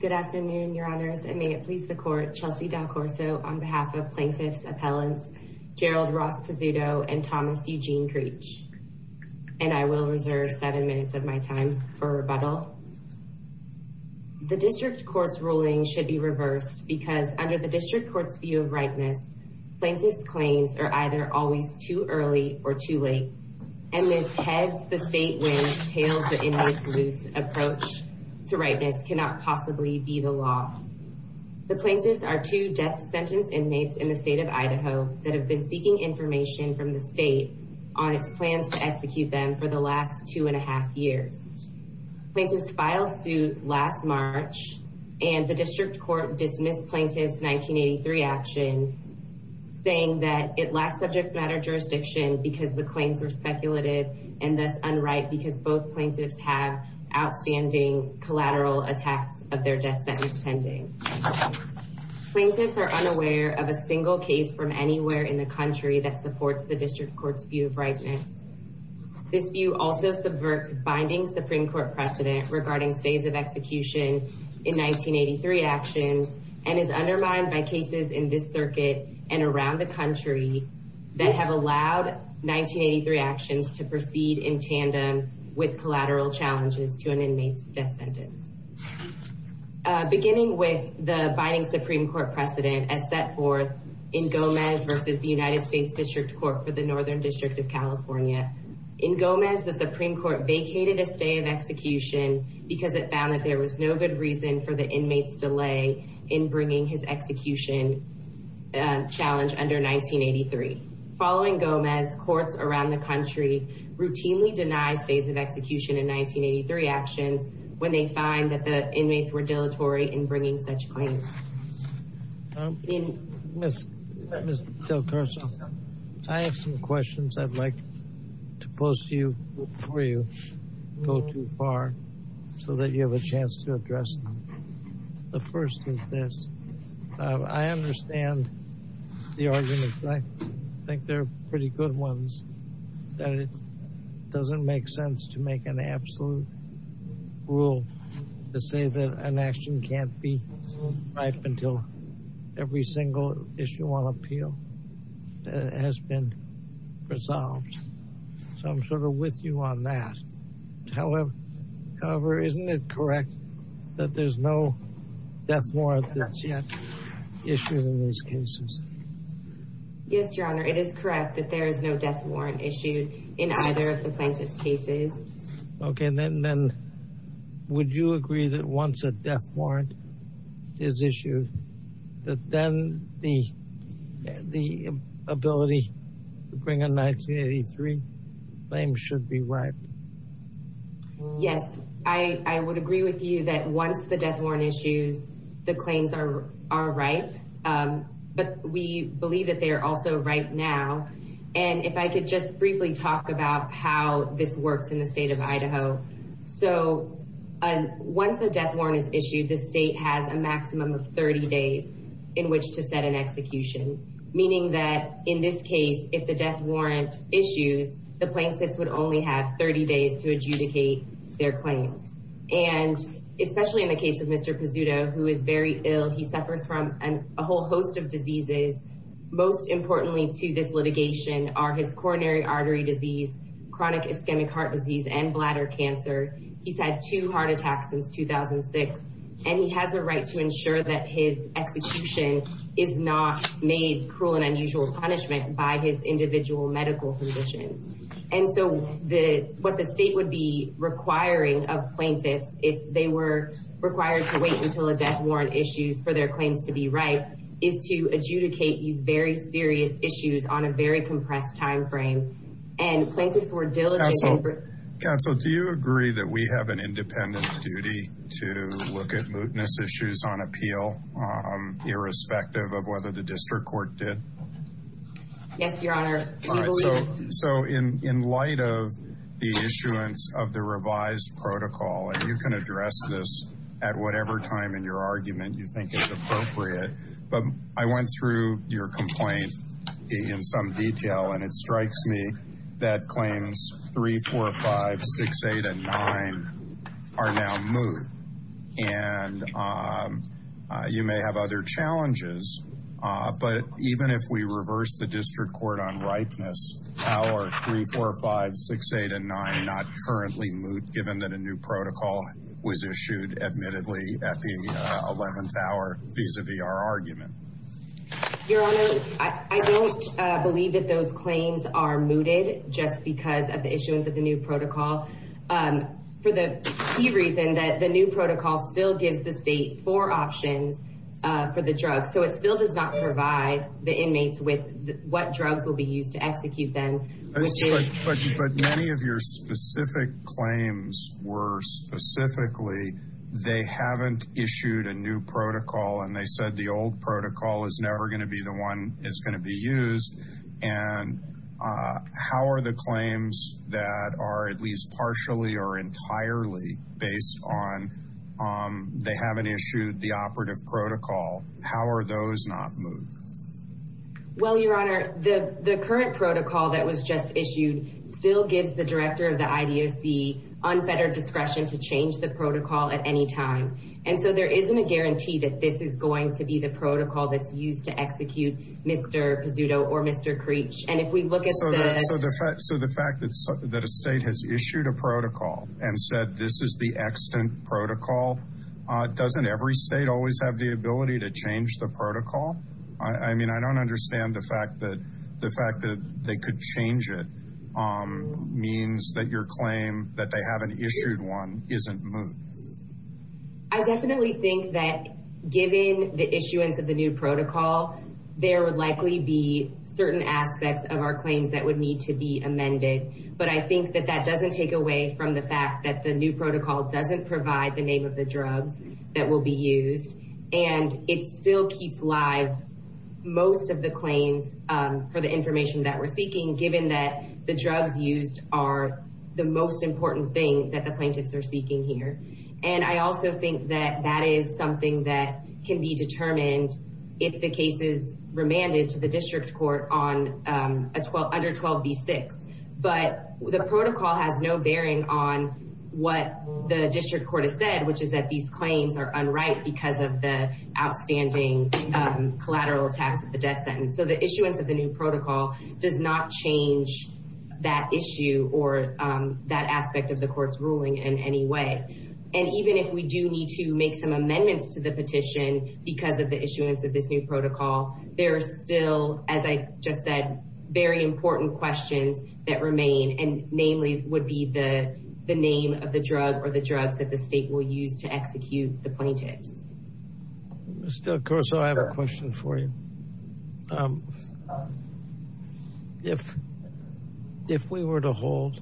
Good afternoon, your honors, and may it please the court, Chelsea D'Alcorso on behalf of plaintiffs' appellants, Gerald Ross Pizzuto and Thomas Eugene Creech. And I will reserve seven minutes of my time for rebuttal. The district court's ruling should be reversed because under the district court's view of ripeness, plaintiffs' claims are either always too early or too late. And Ms. Heads, the state wins, tails the inmates' loose approach to ripeness cannot possibly be the law. The plaintiffs are two death sentence inmates in the state of Idaho that have been seeking information from the state on its plans to execute them for the last two and a half years. Plaintiffs filed suit last March, and the district court dismissed plaintiff's 1983 action saying that it lacked subject matter jurisdiction because the claims were speculative and thus unright because both plaintiffs have outstanding collateral attacks of their death sentence pending. Plaintiffs are unaware of a single case from anywhere in the country that supports the district court's view of ripeness. This view also subverts binding Supreme Court precedent regarding stays of execution in 1983 actions and is undermined by cases in this circuit and around the country that have allowed 1983 actions to proceed in tandem with collateral challenges to an inmate's death sentence. Beginning with the binding Supreme Court precedent as set forth in Gomez versus the United States District Court for the Northern District of California. In Gomez, the Supreme Court vacated a stay of execution because it found that there was no good reason for the inmate's delay in bringing his execution challenge under 1983. Following Gomez, courts around the country routinely deny stays of execution in 1983 actions when they find that the inmates were dilatory in bringing such claims. Ms. DelCarso, I have some questions I'd like to pose to you before you go too far so that you have a chance to address them. The first is this. I understand the arguments. I think they're pretty good ones. That it doesn't make sense to make an absolute rule to say that an action can't be ripe until every single issue on appeal has been resolved. So I'm sort of with you on that. However, isn't it correct that there's no death warrant that's yet issued in these cases? Yes, Your Honor, it is correct that there is no death warrant issued in either of the plaintiff's cases. Okay, then would you agree that once a death warrant is issued, that then the ability to bring a 1983 claim should be ripe? Yes, I would agree with you that once the death warrant issues, the claims are ripe, but we believe that they are also ripe now. And if I could just briefly talk about how this works in the state of Idaho. So once a death warrant is issued, the state has a maximum of 30 days in which to set an execution, meaning that in this case, if the death warrant issues, the plaintiffs would only have 30 days to adjudicate their claims. And especially in the case of Mr. Pizzuto, who is very ill, he suffers from a whole host of diseases. Most importantly to this litigation are his coronary artery disease, chronic ischemic heart disease, and bladder cancer. He's had two heart attacks since 2006, and he has a right to ensure that his execution is not made cruel and unusual punishment by his individual medical physicians. And so what the state would be requiring of plaintiffs if they were required to wait until a death warrant issues for their claims to be ripe, is to adjudicate these very serious issues on a very compressed timeframe. And plaintiffs were diligent. Counsel, do you agree that we have an independent duty to look at mootness issues on appeal, irrespective of whether the district court did? Yes, Your Honor. So in light of the issuance of the revised protocol, and you can address this at whatever time in your argument you think is appropriate, but I went through your complaint in some detail, and it strikes me that claims 3, 4, 5, 6, 8, and 9 are now moot. And you may have other challenges, but even if we reverse the district court on ripeness, how are 3, 4, 5, 6, 8, and 9 not currently moot, given that a new protocol was issued, admittedly, at the 11th hour, vis-a-vis our argument? Your Honor, I don't believe that those claims are mooted just because of the issuance of the new protocol, for the key reason that the new protocol still gives the state four options for the drugs. So it still does not provide the inmates with what drugs will be used to execute them, which is- But many of your specific claims were specifically, they haven't issued a new protocol, and they said the old protocol is never gonna be the one that's gonna be used, and how are the claims that are at least partially or entirely based on they haven't issued the operative protocol, how are those not moot? Well, Your Honor, the current protocol that was just issued still gives the director of the IDOC unfettered discretion to change the protocol at any time, and so there isn't a guarantee that this is going to be the protocol that's used to execute Mr. Pizzuto or Mr. Creech, and if we look at the- So the fact that a state has issued a protocol and said this is the extant protocol, doesn't every state always have the ability to change the protocol? I mean, I don't understand the fact that they could change it means that your claim that they haven't issued one isn't moot. I definitely think that given the issuance of the new protocol, there would likely be certain aspects of our claims that would need to be amended, but I think that that doesn't take away from the fact that the new protocol doesn't provide the name of the drugs that will be used, and it still keeps live most of the claims for the information that we're seeking, given that the drugs used are the most important thing that the plaintiffs are seeking here, and I also think that that is something that can be determined if the case is remanded to the district court under 12b-6, but the protocol has no bearing on what the district court has said, which is that these claims are unright because of the outstanding collateral tax of the death sentence, so the issuance of the new protocol does not change that issue or that aspect of the court's ruling in any way, and even if we do need to make some amendments to the petition because of the issuance of this new protocol, there are still, as I just said, very important questions that remain, and namely would be the name of the drug or the drugs that the state will use to execute the plaintiffs. Mr. Corso, I have a question for you. If we were to hold,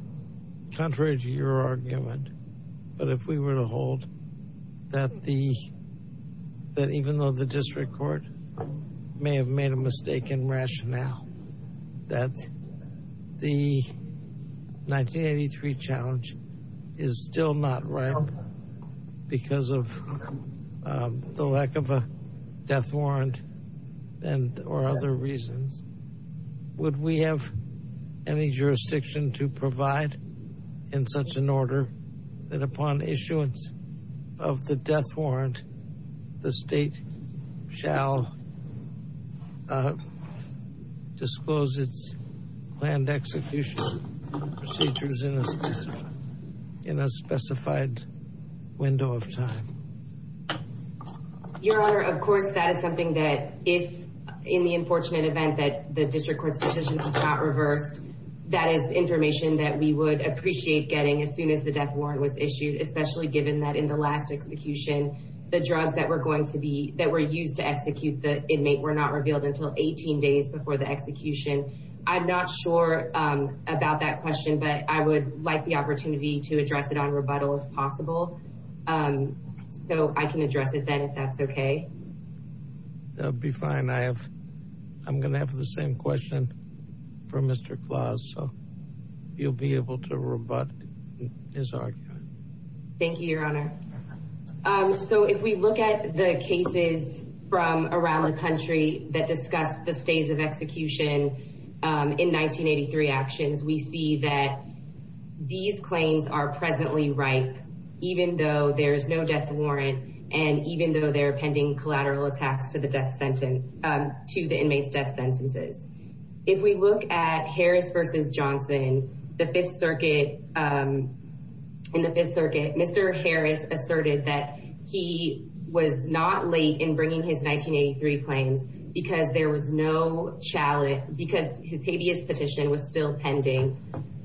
contrary to your argument, but if we were to hold that even though the district court may have made a mistake in rationale, that the 1983 challenge is still not right because of the lack of a death warrant or other reasons, would we have any jurisdiction to provide in such an order that upon issuance of the death warrant, the state shall disclose its planned execution procedures in a specified window of time? Your Honor, of course, that is something that if in the unfortunate event that the district court's position is not reversed, that is information that we would appreciate getting as soon as the death warrant was issued, especially given that in the last execution, the drugs that were used to execute the inmate were not revealed until 18 days before the execution. I'm not sure about that question, but I would like the opportunity to address it on rebuttal if possible. So I can address it then if that's okay. That would be fine. I'm gonna have the same question for Mr. Claus, so you'll be able to rebut his argument. Thank you, Your Honor. So if we look at the cases from around the country that discuss the stays of execution in 1983 actions, we see that these claims are presently ripe, even though there's no death warrant and even though they're pending collateral attacks to the death sentence, to the inmates' death sentences. If we look at Harris versus Johnson, the Fifth Circuit, in the Fifth Circuit, Mr. Harris asserted that he was not late in bringing his 1983 claims because there was no, because his habeas petition was still pending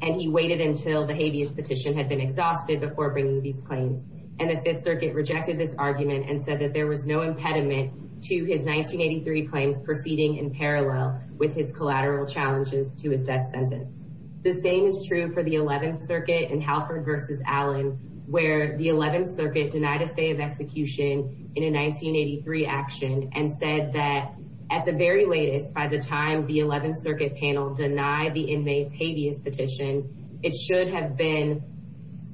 and he waited until the habeas petition had been exhausted before bringing these claims. And the Fifth Circuit rejected this argument and said that there was no impediment to his 1983 claims proceeding in parallel with his collateral challenges to his death sentence. The same is true for the 11th Circuit in Halford versus Allen, where the 11th Circuit denied a stay of execution in a 1983 action and said that at the very latest, by the time the 11th Circuit panel denied the inmates' habeas petition, it should have been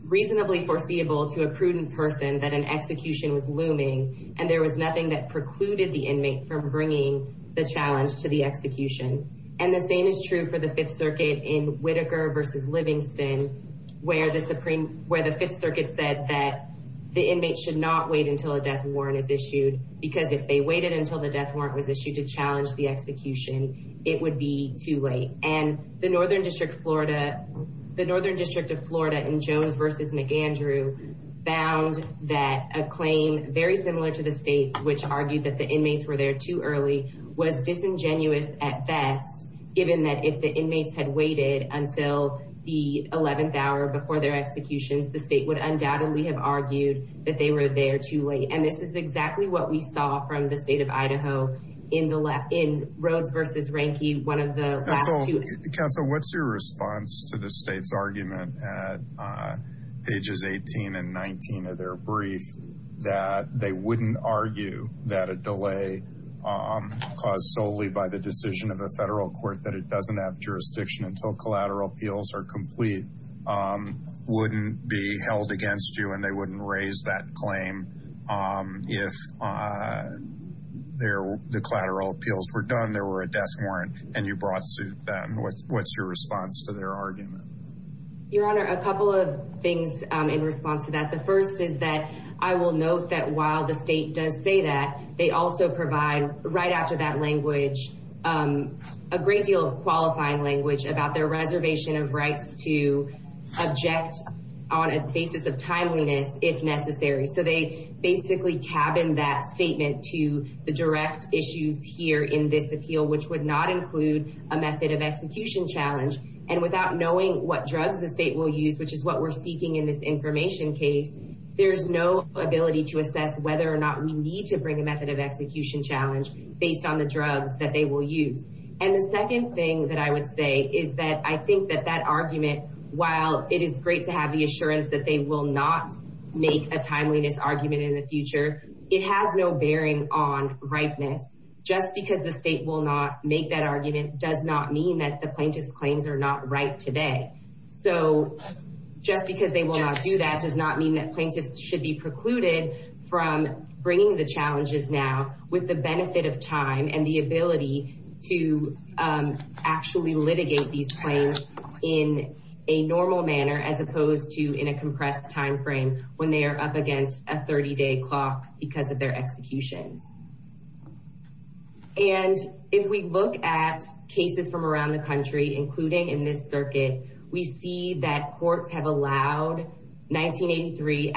reasonably foreseeable to a prudent person that an execution was looming and there was nothing that precluded the inmate from bringing the challenge to the execution. And the same is true for the Fifth Circuit in Whitaker versus Livingston, where the Fifth Circuit said that the inmates should not wait until a death warrant is issued because if they waited until the death warrant was issued to challenge the execution, it would be too late. And the Northern District of Florida in Jones versus McAndrew found that a claim very similar to the state's, which argued that the inmates were there too early, was disingenuous at best, given that if the inmates had waited until the 11th hour before their executions, the state would undoubtedly have argued that they were there too late. And this is exactly what we saw from the state of Idaho in Rhodes versus Rehnke, one of the last two. Council, what's your response to the state's argument at pages 18 and 19 of their brief that they wouldn't argue that a delay caused solely by the decision of the federal court that it doesn't have jurisdiction until collateral appeals are complete wouldn't be held against you and they wouldn't raise that claim if the collateral appeals were done, there were a death warrant and you brought suit them. What's your response to their argument? Your Honor, a couple of things in response to that. The first is that I will note that while the state does say that, they also provide right after that language, a great deal of qualifying language about their reservation of rights to object on a basis of timeliness if necessary. So they basically cabin that statement to the direct issues here in this appeal, which would not include a method of execution challenge. And without knowing what drugs the state will use, which is what we're seeking in this information case, there's no ability to assess whether or not we need to bring a method of execution challenge based on the drugs that they will use. And the second thing that I would say is that I think that that argument, while it is great to have the assurance that they will not make a timeliness argument in the future, it has no bearing on ripeness. Just because the state will not make that argument does not mean that the plaintiff's claims are not right today. So just because they will not do that does not mean that plaintiffs should be precluded from bringing the challenges now with the benefit of time and the ability to actually litigate these claims in a normal manner as opposed to in a compressed timeframe when they are up against a 30 day clock because of their executions. And if we look at cases from around the country, including in this circuit, we see that courts have allowed 1983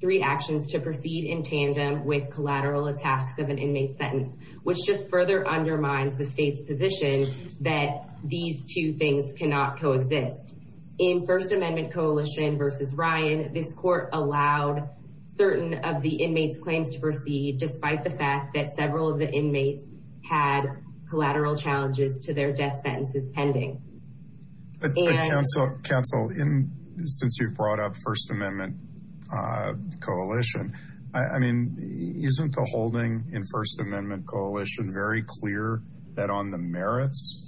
three actions to proceed in tandem with collateral attacks of an inmate sentence, which just further undermines the state's position that these two things cannot coexist. In First Amendment Coalition versus Ryan, this court allowed certain of the inmates' claims to proceed despite the fact that several of the inmates had collateral challenges to their death sentences pending. Council, since you've brought up First Amendment Coalition, I mean, isn't the holding in First Amendment Coalition very clear that on the merits,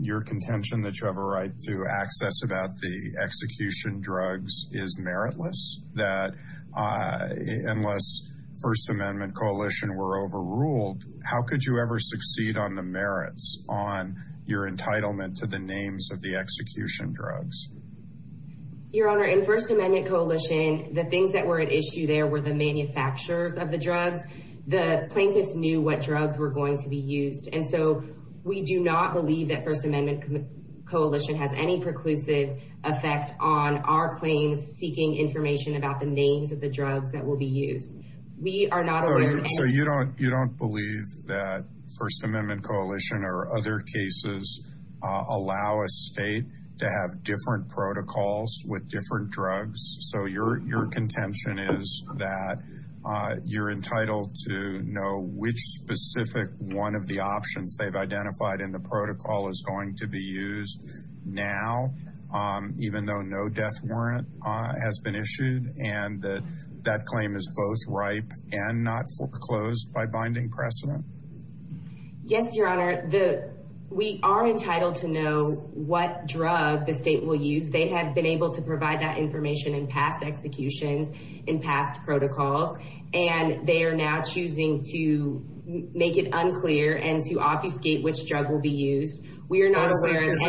your contention that you have a right to access about the execution drugs is meritless? That unless First Amendment Coalition were overruled, how could you ever succeed on the merits on your entitlement to the names of the execution drugs? Your Honor, in First Amendment Coalition, the things that were at issue there were the manufacturers of the drugs. The plaintiffs knew what drugs were going to be used. And so we do not believe that First Amendment Coalition has any preclusive effect on our claims seeking information about the names of the drugs that will be used. We are not aware of- So you don't believe that First Amendment Coalition or other cases allow a state to have different protocols with different drugs? So your contention is that you're entitled to know which specific one of the options they've identified in the protocol is going to be used now, even though no death warrant has been issued, and that that claim is both ripe and not foreclosed by binding precedent? Yes, Your Honor. We are entitled to know what drug the state will use. They have been able to provide that information in past executions, in past protocols, and they are now choosing to make it unclear and to obfuscate which drug will be used. We are not aware of- Is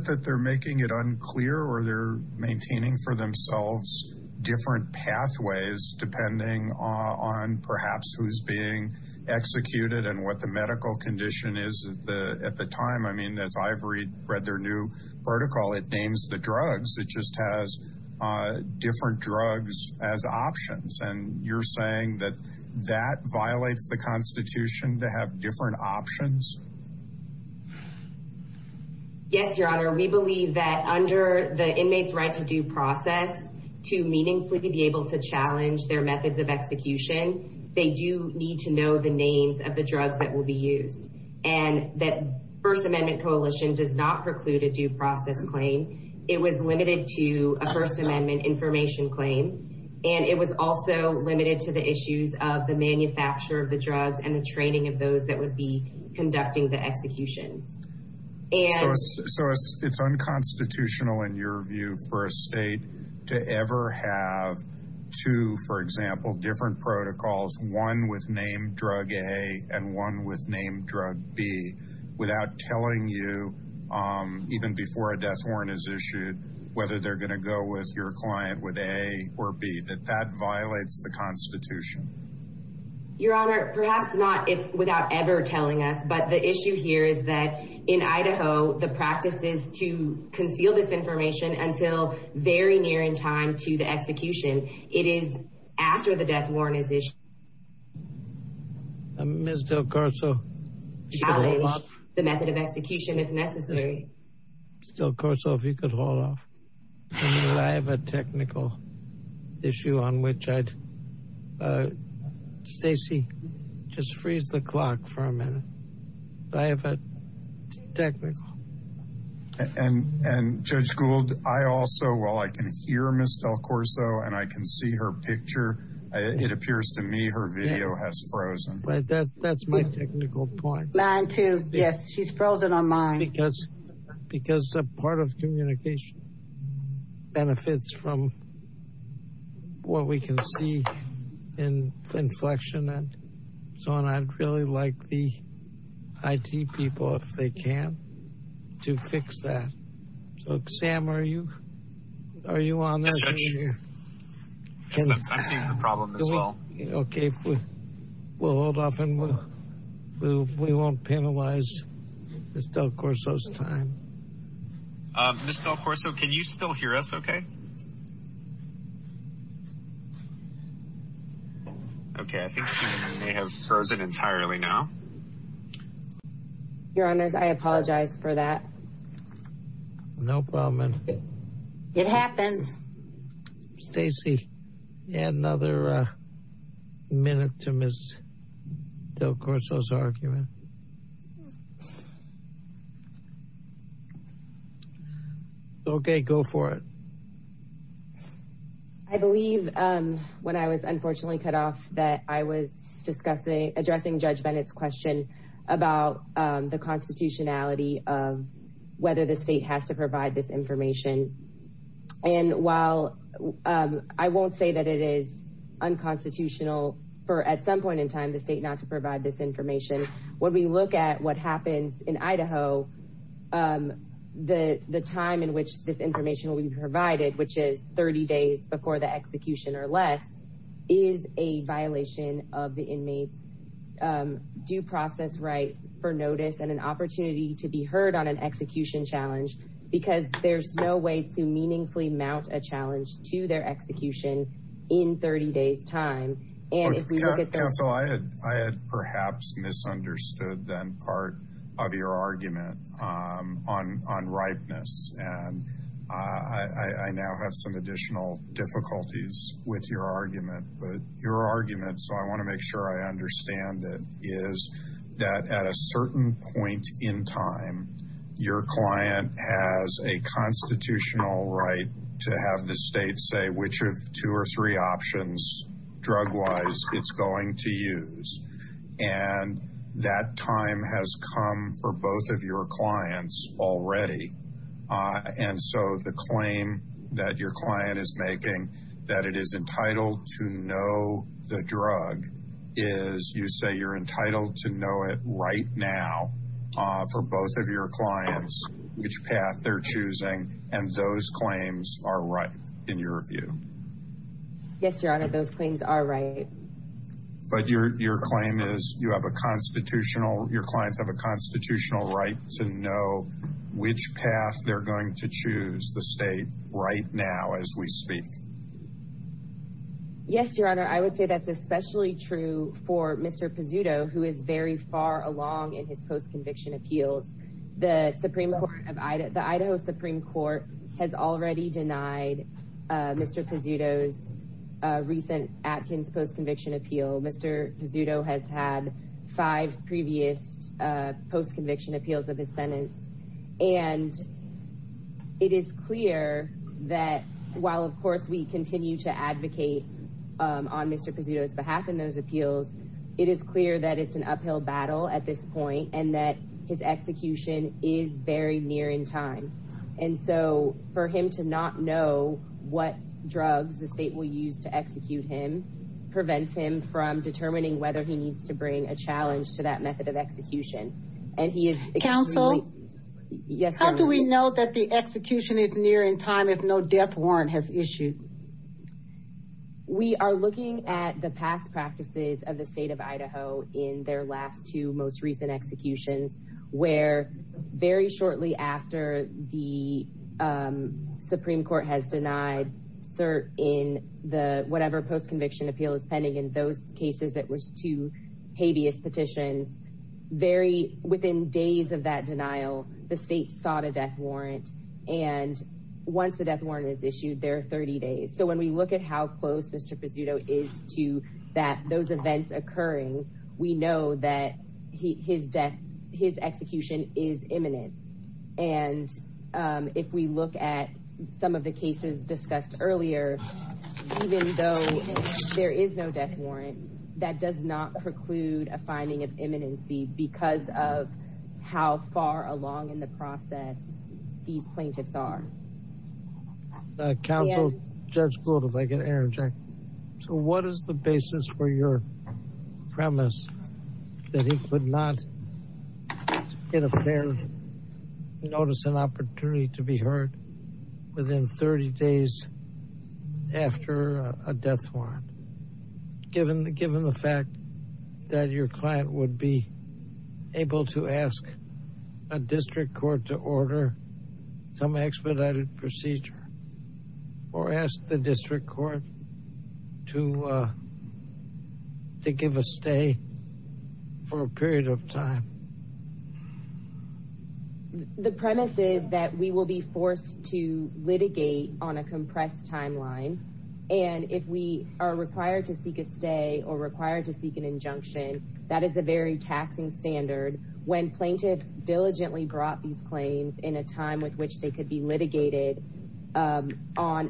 it that they're making it unclear or they're maintaining for themselves different pathways depending on perhaps who's being executed and what the medical condition is at the time? I mean, as I've read their new protocol, it names the drugs. It just has different drugs as options, and you're saying that that violates the Constitution to have different options? Yes, Your Honor. We believe that under the inmates' right to due process, to meaningfully be able to challenge their methods of execution, they do need to know the names of the drugs that will be used, and that First Amendment Coalition does not preclude a due process claim. It was limited to a First Amendment information claim, and it was also limited to the issues of the manufacturer of the drugs and the training of those that would be conducting the executions. And- So it's unconstitutional in your view for a state to ever have two, for example, different protocols, one with name drug A and one with name drug B without telling you, even before a death warrant is issued, whether they're going to go with your client with A or B, that that violates the Constitution? Your Honor, perhaps not without ever telling us, but the issue here is that in Idaho, the practice is to conceal this information until very near in time to the execution. It is after the death warrant is issued. Ms. Del Corso. Challenge the method of execution if necessary. Ms. Del Corso, if you could hold off. I mean, I have a technical issue on which I'd... Stacey, just freeze the clock for a minute. I have a technical... And Judge Gould, I also, while I can hear Ms. Del Corso and I can see her picture, it appears to me her video has frozen. Right, that's my technical point. Mine too. Yes, she's frozen on mine. Because a part of communication benefits from what we can see in inflection. So, and I'd really like the IT people, if they can, to fix that. So, Sam, are you on this? Yes, Judge. I'm seeing the problem as well. Okay, we'll hold off and we won't penalize Ms. Del Corso's time. Ms. Del Corso, can you still hear us okay? Okay, I think she may have frozen entirely now. Your Honors, I apologize for that. No problem. It happens. Stacey, add another minute to Ms. Del Corso's argument. Okay, go for it. I believe when I was unfortunately cut off that I was addressing Judge Bennett's question about the constitutionality of whether the state has to provide this information. And while I won't say that it is unconstitutional for at some point in time, the state not to provide this information, when we look at what happens in Idaho, the time in which this information will be provided, which is 30 days before the execution or less, is a violation of the inmates' due process right for notice and an opportunity to be heard on an execution challenge because there's no way to meaningfully mount a challenge to their execution in 30 days time. And if we look at the- Counsel, I had perhaps misunderstood then part of your argument on ripeness. And I now have some additional difficulties with your argument, but your argument, so I wanna make sure I understand it, is that at a certain point in time, your client has a constitutional right to have the state say which of two or three options, drug-wise, it's going to use. And that time has come for both of your clients already. And so the claim that your client is making that it is entitled to know the drug is you say you're entitled to know it right now for both of your clients, which path they're choosing, and those claims are right in your view. Yes, Your Honor, those claims are right. But your claim is you have a constitutional, your clients have a constitutional right to know which path they're going to choose, the state, right now as we speak. Yes, Your Honor, I would say that's especially true for Mr. Pizzuto, who is very far along in his post-conviction appeals. The Idaho Supreme Court has already denied Mr. Pizzuto's recent Atkins post-conviction appeal. Mr. Pizzuto has had five previous post-conviction appeals of his sentence. And it is clear that while, of course, we continue to advocate on Mr. Pizzuto's behalf in those appeals, it is clear that it's an uphill battle at this point, and that his execution is very near in time. And so for him to not know what drugs the state will use to execute him prevents him from determining whether he needs to bring a challenge to that method of execution. And he is extremely- Counsel? Yes, Your Honor. How do we know that the execution is near in time if no death warrant has issued? We are looking at the past practices of the state of Idaho in their last two most recent executions, where very shortly after the Supreme Court has denied cert in the whatever post-conviction appeal is pending in those cases, it was two habeas petitions, very within days of that denial, the state sought a death warrant. And once the death warrant is issued, there are 30 days. So when we look at how close Mr. Pizzuto is that those events occurring, we know that his death, his execution is imminent. And if we look at some of the cases discussed earlier, even though there is no death warrant, that does not preclude a finding of imminency because of how far along in the process these plaintiffs are. Counsel, Judge Gould, if I can interject. So what is the basis for your premise that he could not get a fair notice and opportunity to be heard within 30 days after a death warrant, given the fact that your client would be able to ask a district court to order some expedited procedure or ask the district court to give a stay for a period of time? The premise is that we will be forced to litigate on a compressed timeline. And if we are required to seek a stay or required to seek an injunction, that is a very taxing standard. When plaintiffs diligently brought these claims in a time with which they could be litigated, on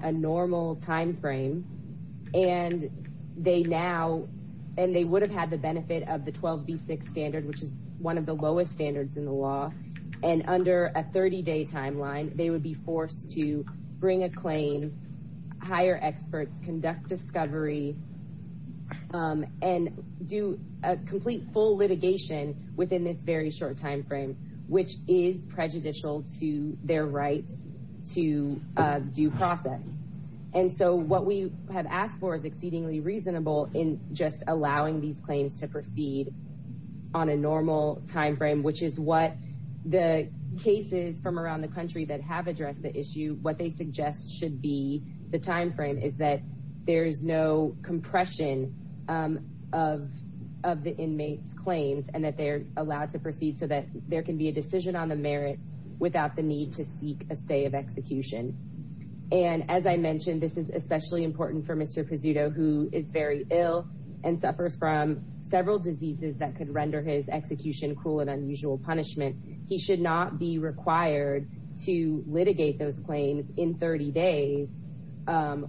a normal timeframe, and they now, and they would have had the benefit of the 12B6 standard, which is one of the lowest standards in the law. And under a 30 day timeline, they would be forced to bring a claim, hire experts, conduct discovery, and do a complete full litigation within this very short timeframe, which is prejudicial to their rights to due process. And so what we have asked for is exceedingly reasonable in just allowing these claims to proceed on a normal timeframe, which is what the cases from around the country that have addressed the issue, what they suggest should be the timeframe is that there's no compression of the inmates' claims and that they're allowed to proceed so that there can be a decision on the merits without the need to seek a stay of execution. And as I mentioned, this is especially important for Mr. Pezzuto, who is very ill and suffers from several diseases that could render his execution cruel and unusual punishment. He should not be required to litigate those claims in 30 days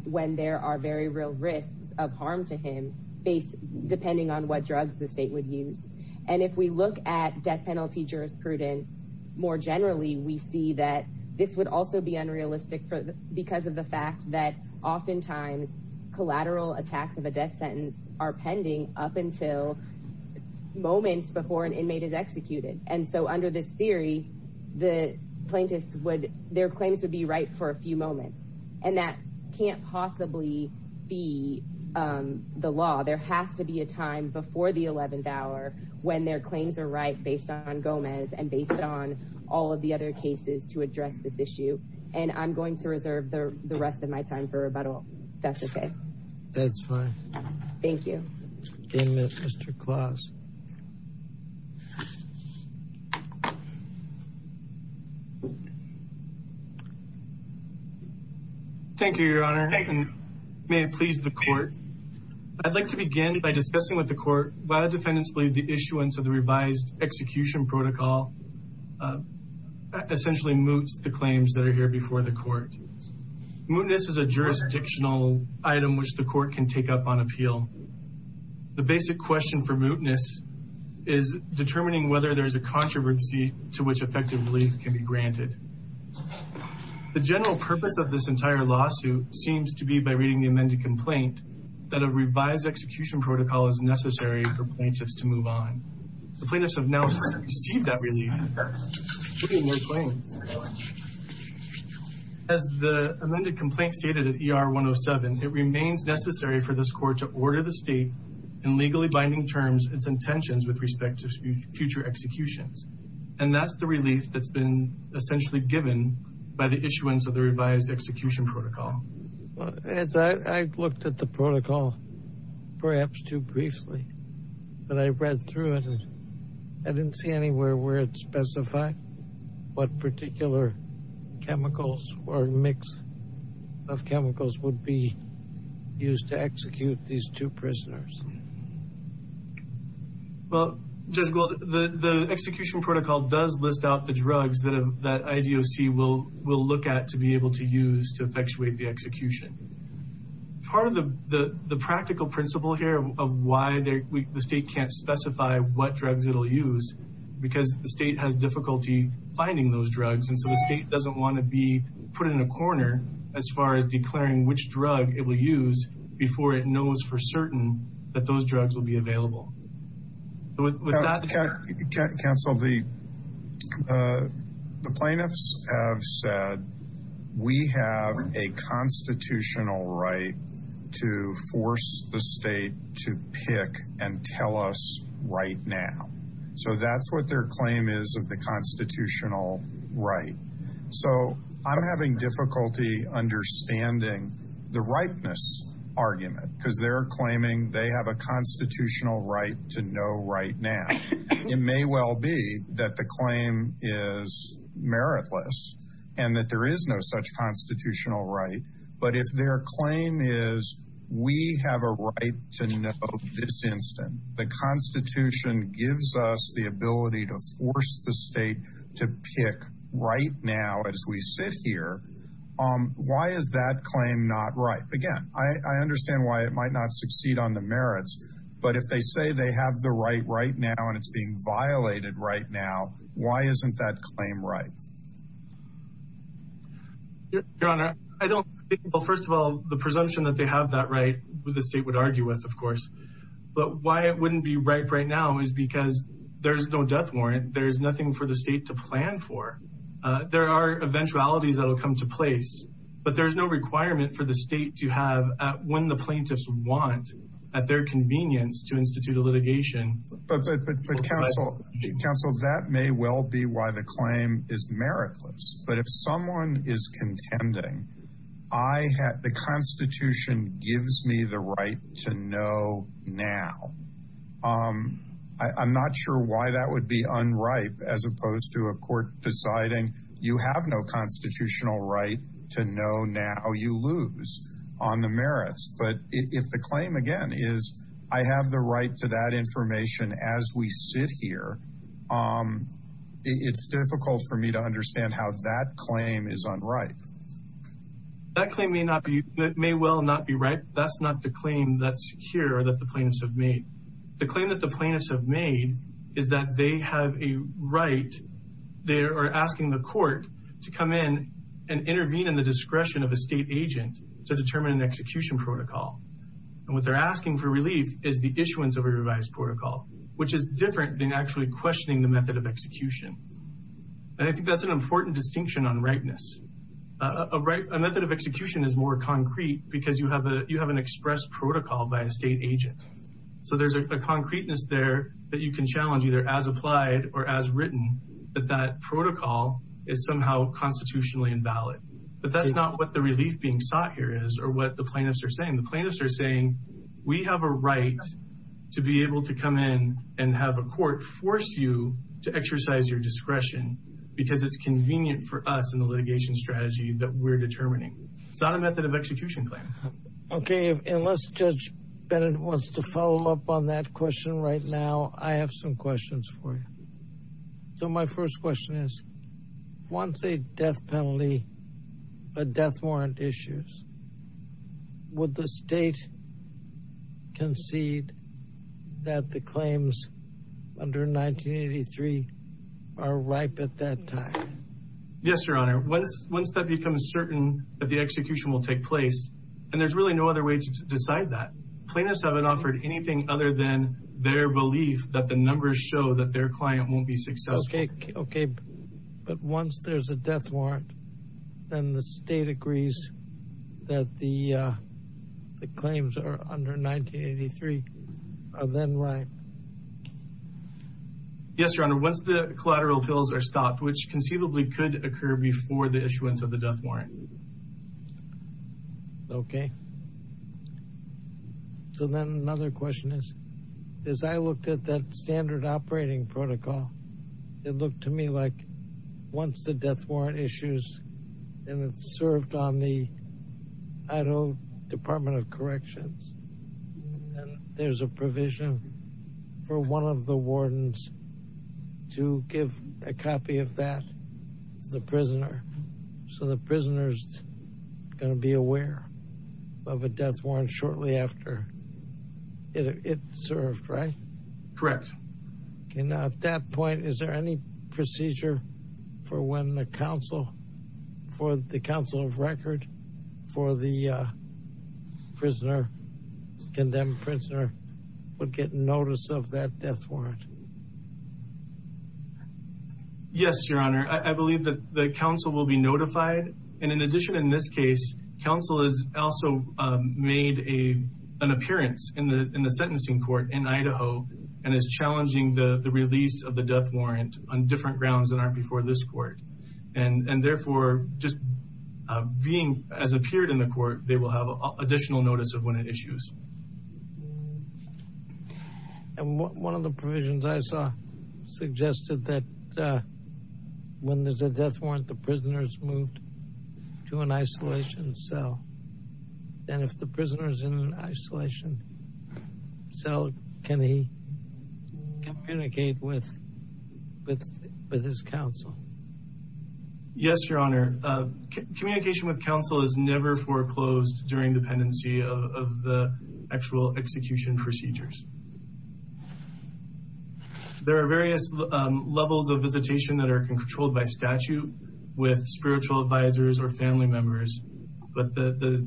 when there are very real risks of harm to him, depending on what drugs the state would use. And if we look at death penalty jurisprudence, more generally, we see that this would also be unrealistic because of the fact that oftentimes collateral attacks of a death sentence are pending up until moments before an inmate is executed. And so under this theory, their claims would be right for a few moments. And that can't possibly be the law. There has to be a time before the 11th hour when their claims are right based on Gomez and based on all of the other cases to address this issue. And I'm going to reserve the rest of my time for rebuttal. That's okay. That's fine. Thank you. Thank you, Mr. Claus. Thank you, Your Honor. May it please the court. I'd like to begin by discussing with the court why the defendants believe the issuance of the revised execution protocol essentially moots the claims that are here before the court. Mootness is a jurisdictional item which the court can take up on appeal. The basic question for mootness is determining whether there's a controversy to which effective relief can be granted. The general purpose of this entire lawsuit seems to be by reading the amended complaint that a revised execution protocol is necessary for plaintiffs to move on. The plaintiffs have now received that relief. As the amended complaint stated at ER 107, it remains necessary for this court to order the state in legally binding terms its intentions with respect to future executions. And that's the relief that's been essentially given by the issuance of the revised execution protocol. As I looked at the protocol, perhaps too briefly, when I read through it, I didn't see anywhere where it specified what particular chemicals or mix of chemicals would be used to execute these two prisoners. Well, Judge Gould, the execution protocol does list out the drugs that IDOC will look at to be able to use to effectuate the execution. Part of the practical principle here of why the state can't specify what drugs it'll use, because the state has difficulty finding those drugs. And so the state doesn't want to be put in a corner as far as declaring which drug it will use before it knows for certain that those drugs will be available. Counsel, the plaintiffs have said, we have a constitutional right to force the state to pick and tell us right now. So that's what their claim is of the constitutional right. So I'm having difficulty understanding the rightness argument, because they're claiming they have a constitutional right to know right now. It may well be that the claim is meritless and that there is no such constitutional right. But if their claim is, we have a right to know this instant, the constitution gives us the ability to force the state to pick right now as we sit here. Why is that claim not right? Again, I understand why it might not succeed on the merits, but if they say they have the right right now and it's being violated right now, why isn't that claim right? Your Honor, I don't think, well, first of all, the presumption that they have that right with the state would argue with, of course, but why it wouldn't be right right now is because there's no death warrant. There's nothing for the state to plan for. There are eventualities that'll come to place, but there's no requirement for the state when the plaintiffs want at their convenience to institute a litigation. But counsel, that may well be why the claim is meritless, but if someone is contending, the constitution gives me the right to know now. I'm not sure why that would be unripe as opposed to a court deciding you have no constitutional right to know now you lose on the merits. But if the claim, again, is I have the right to that information as we sit here, it's difficult for me to understand how that claim is unripe. That claim may well not be right. That's not the claim that's here that the plaintiffs have made. The claim that the plaintiffs have made is that they have a right. They are asking the court to come in and intervene in the discretion of a state agent to determine an execution protocol. And what they're asking for relief is the issuance of a revised protocol, which is different than actually questioning the method of execution. And I think that's an important distinction on ripeness. A method of execution is more concrete because you have an express protocol by a state agent. So there's a concreteness there that you can challenge either as applied or as written, that that protocol is somehow constitutionally invalid. But that's not what the relief being sought here is or what the plaintiffs are saying. The plaintiffs are saying, we have a right to be able to come in and have a court force you to exercise your discretion because it's convenient for us in the litigation strategy that we're determining. It's not a method of execution claim. Okay, unless Judge Bennett wants to follow up on that question right now, I have some questions for you. So my first question is, once a death penalty, a death warrant issues, would the state concede that the claims under 1983 are ripe at that time? Yes, Your Honor. Once that becomes certain that the execution will take place, and there's really no other way to decide that, plaintiffs haven't offered anything other than their belief that the numbers show that their client won't be successful. Okay, but once there's a death warrant, then the state agrees that the claims are under 1983 are then ripe. Yes, Your Honor. Once the collateral appeals are stopped, which conceivably could occur before the issuance of the death warrant. Okay. So then another question is, as I looked at that standard operating protocol, it looked to me like once the death warrant issues and it's served on the Idaho Department of Corrections, and there's a provision for one of the wardens to give a copy of that to the prisoner. So the prisoner's gonna be aware of a death warrant shortly after it served, right? Correct. Okay, now at that point, is there any procedure for when the counsel, for the counsel of record for the prisoner, condemned prisoner would get notice of that death warrant? Yes, Your Honor. I believe that the counsel will be notified. And in addition, in this case, counsel has also made an appearance in the sentencing court in Idaho and is challenging the release of the death warrant on different grounds that aren't before this court. And therefore, just being as appeared in the court, they will have additional notice of when it issues. And one of the provisions I saw suggested that when there's a death warrant, the prisoner's moved to an isolation cell. And if the prisoner's in an isolation cell, can he communicate with his counsel? Yes, Your Honor. Communication with counsel is never foreclosed during dependency of the actual execution procedures. There are various levels of visitation that are controlled by statute with spiritual advisors or family members. But the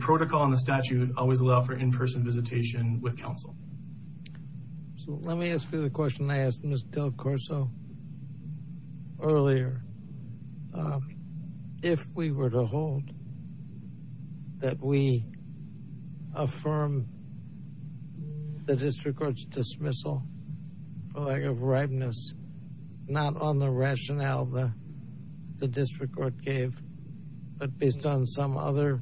protocol and the statute always allow for in-person visitation with counsel. So let me ask you the question I asked Ms. Del Corso earlier. If we were to hold that we affirm the district court's dismissal for lack of ripeness, not on the rationale the district court gave, but based on some other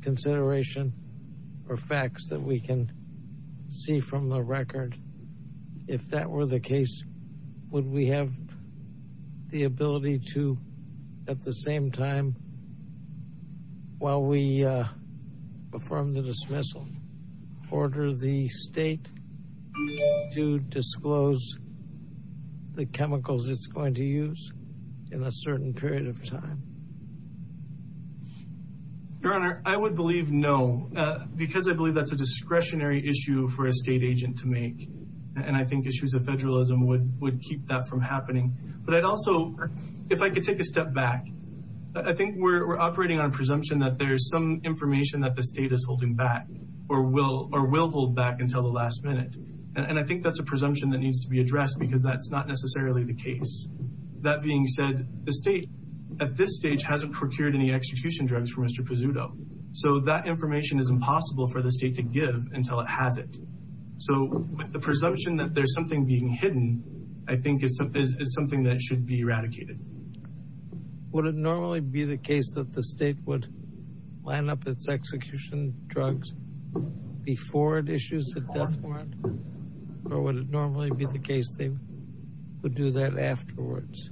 consideration or facts that we can see from the record, if that were the case, would we have the ability to, at the same time, while we affirm the dismissal, order the state to disclose the chemicals it's going to use in a certain period of time? Your Honor, I would believe no, because I believe that's a discretionary issue for a state agent to make. And I think issues of federalism would keep that from happening. But I'd also, if I could take a step back, I think we're operating on a presumption that there's some information that the state is holding back or will hold back until the last minute. And I think that's a presumption that needs to be addressed because that's not necessarily the case. That being said, the state, at this stage, hasn't procured any execution drugs for Mr. Pezzuto. So that information is impossible for the state to give until it has it. So with the presumption that there's something being hidden, I think it's something that should be eradicated. Would it normally be the case that the state would line up its execution drugs before it issues a death warrant? Or would it normally be the case they would do that afterwards?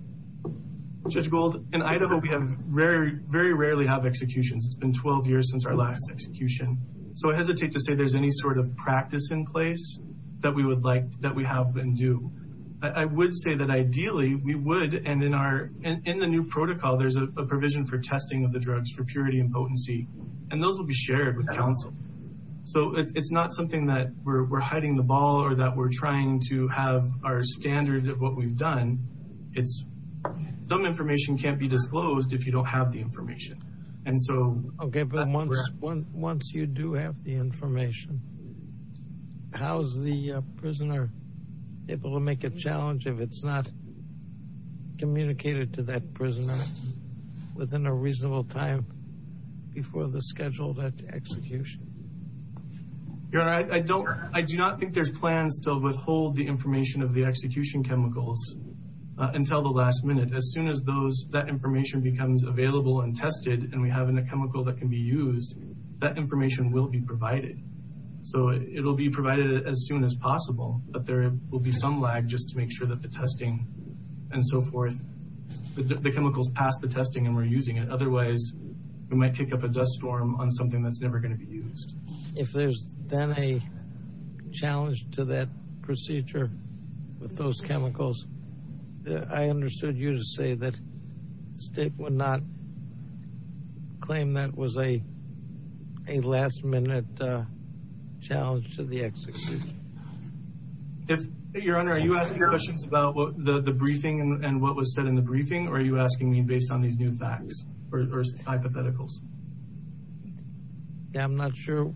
Judge Gold, in Idaho, we very rarely have executions. It's been 12 years since our last execution. So I hesitate to say there's any sort of practice in place that we would like, that we have and do. I would say that ideally we would, and in the new protocol, there's a provision for testing of the drugs for purity and potency. And those will be shared with counsel. So it's not something that we're hiding the ball or that we're trying to have our standard of what we've done. It's some information can't be disclosed if you don't have the information. And so- Okay, but once you do have the information, how's the prisoner able to make a challenge if it's not communicated to that prisoner within a reasonable time before the scheduled execution? Your Honor, I do not think there's plans to withhold the information of the execution chemicals until the last minute. As soon as that information becomes available and tested and we have a chemical that can be used, that information will be provided. So it'll be provided as soon as possible, but there will be some lag just to make sure that the testing and so forth, the chemicals pass the testing and we're using it. Otherwise, we might pick up a dust storm on something that's never gonna be used. If there's then a challenge to that procedure with those chemicals, I understood you to say that the state would not claim that was a last minute challenge to the execution. Your Honor, are you asking your questions about the briefing and what was said in the briefing, or are you asking me based on these new facts or hypotheticals? Yeah, I'm not sure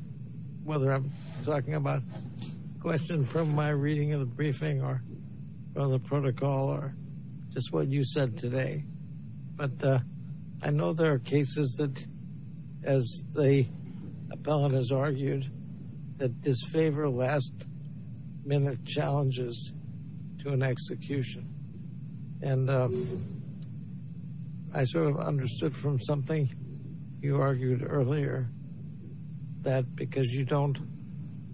whether I'm talking about a question from my reading of the briefing or the protocol or just what you said today, as the appellant has argued, that disfavor last minute challenges to an execution. And I sort of understood from something you argued earlier that because you don't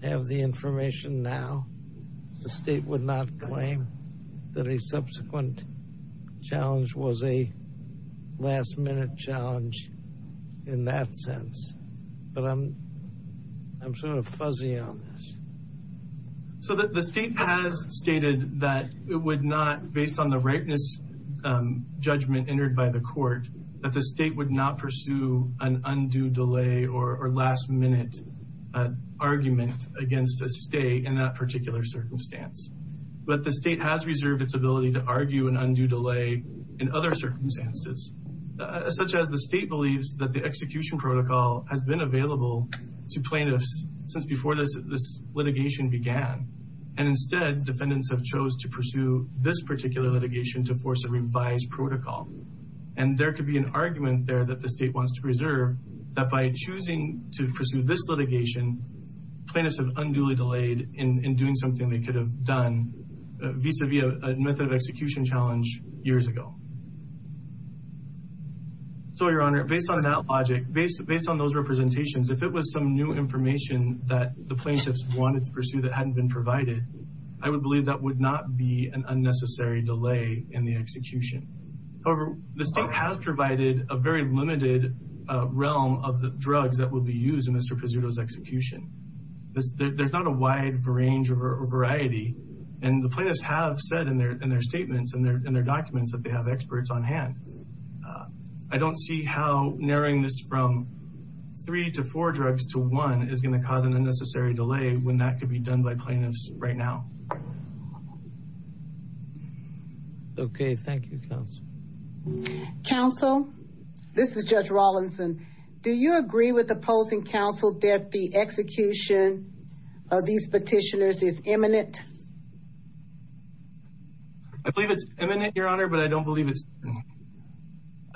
have the information now, the state would not claim that a subsequent challenge was a last minute challenge in that sense. But I'm sort of fuzzy on this. So the state has stated that it would not, based on the rightness judgment entered by the court, that the state would not pursue an undue delay or last minute argument against a state in that particular circumstance. But the state has reserved its ability to argue an undue delay in other circumstances, such as the state believes that the execution protocol has been available to plaintiffs since before this litigation began. And instead, defendants have chose to pursue this particular litigation to force a revised protocol. And there could be an argument there that the state wants to reserve that by choosing to pursue this litigation, plaintiffs have unduly delayed in doing something they could have done vis-a-vis a method of execution challenge years ago. So, Your Honor, based on that logic, based on those representations, if it was some new information that the plaintiffs wanted to pursue that hadn't been provided, I would believe that would not be an unnecessary delay in the execution. However, the state has provided a very limited realm of the drugs that will be used in Mr. Presuto's execution. There's not a wide range or variety. And the plaintiffs have said in their statements and their documents that they have experts on hand. I don't see how narrowing this from three to four drugs to one is gonna cause an unnecessary delay when that could be done by plaintiffs right now. Okay, thank you, counsel. Counsel, this is Judge Rawlinson. Do you agree with opposing counsel that the execution of these petitioners is imminent? I believe it's imminent, Your Honor, but I don't believe it's imminent.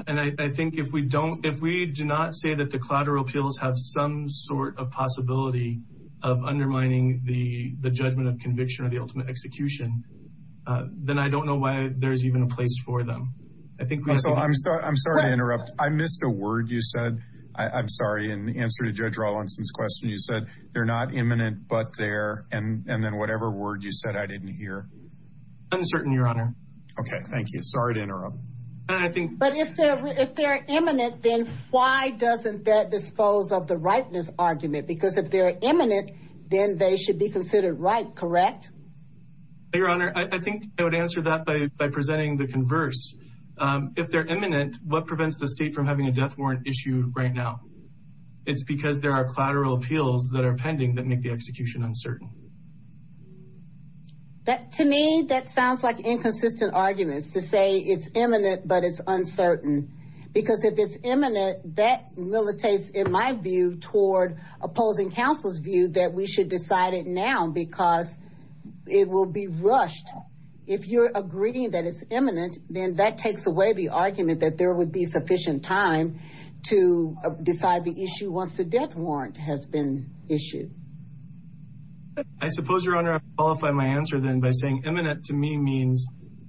And I think if we do not say that the collateral appeals have some sort of possibility of undermining the judgment of conviction or the ultimate execution, then I don't know why there's even a place for them. I think we have to- Counsel, I'm sorry to interrupt. I missed a word you said. I'm sorry. In answer to Judge Rawlinson's question, you said they're not imminent, but they're, and then whatever word you're using, what was that word you said I didn't hear? Uncertain, Your Honor. Okay, thank you. Sorry to interrupt. And I think- But if they're imminent, then why doesn't that dispose of the rightness argument? Because if they're imminent, then they should be considered right, correct? Your Honor, I think I would answer that by presenting the converse. If they're imminent, what prevents the state from having a death warrant issue right now? It's because there are collateral appeals that are pending that make the execution uncertain. To me, that sounds like inconsistent arguments to say it's imminent, but it's uncertain. Because if it's imminent, that militates, in my view, toward opposing counsel's view that we should decide it now, because it will be rushed. If you're agreeing that it's imminent, then that takes away the argument that there would be sufficient time to decide the issue once the death warrant has been issued. I suppose, Your Honor, I would qualify my answer then by saying imminent to me means,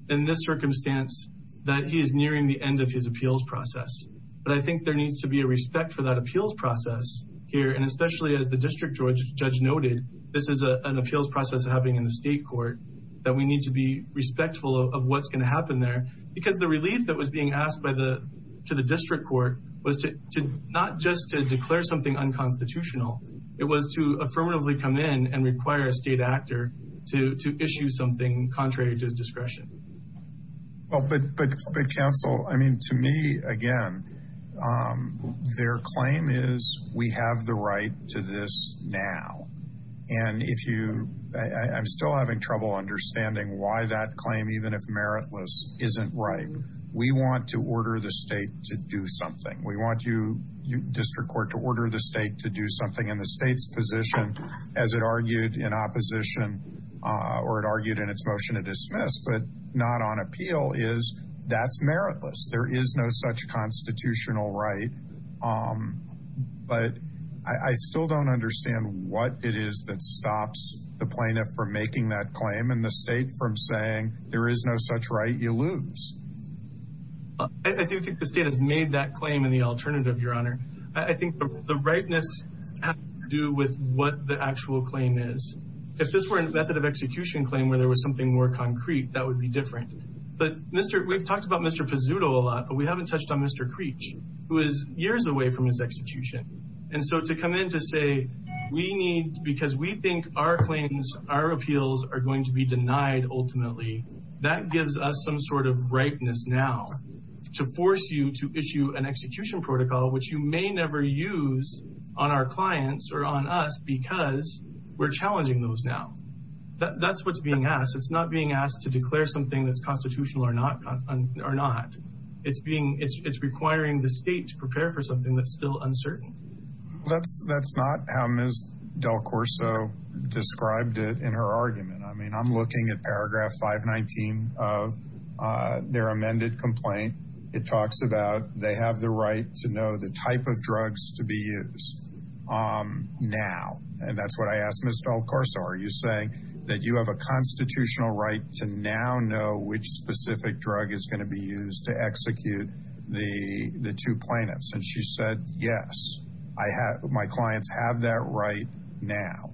in this circumstance, that he is nearing the end of his appeals process. But I think there needs to be a respect for that appeals process here. And especially as the district judge noted, this is an appeals process happening in the state court, that we need to be respectful of what's going to happen there. Because the relief that was being asked to the district court was not just to declare something unconstitutional. It was to affirmatively come in and require a state actor to issue something contrary to his discretion. Well, but counsel, I mean, to me, again, their claim is we have the right to this now. And if you, I'm still having trouble understanding why that claim, even if meritless, isn't right. We want to order the state to do something. We want you, district court, to order the state to do something in the state's position, as it argued in opposition, or it argued in its motion to dismiss, but not on appeal, is that's meritless. There is no such constitutional right. But I still don't understand what it is that stops the plaintiff from making that claim and the state from saying there is no such right, you lose. I do think the state has made that claim in the alternative, Your Honor. I think the ripeness has to do with what the actual claim is. If this were a method of execution claim where there was something more concrete, that would be different. But we've talked about Mr. Pizzuto a lot, but we haven't touched on Mr. Creech, who is years away from his execution. And so to come in to say, we need, because we think our claims, our appeals are going to be denied ultimately, that gives us some sort of ripeness now to force you to issue an execution protocol, which you may never use on our clients or on us because we're challenging those now. That's what's being asked. It's not being asked to declare something that's constitutional or not. It's being, it's requiring the state to prepare for something that's still uncertain. That's not how Ms. Del Corso described it in her argument. I mean, I'm looking at paragraph 519 of their amended complaint. It talks about they have the right to know the type of drugs to be used now. And that's what I asked Ms. Del Corso. Are you saying that you have a constitutional right to now know which specific drug is going to be used to execute the two plaintiffs? And she said, yes, I have, my clients have that right now.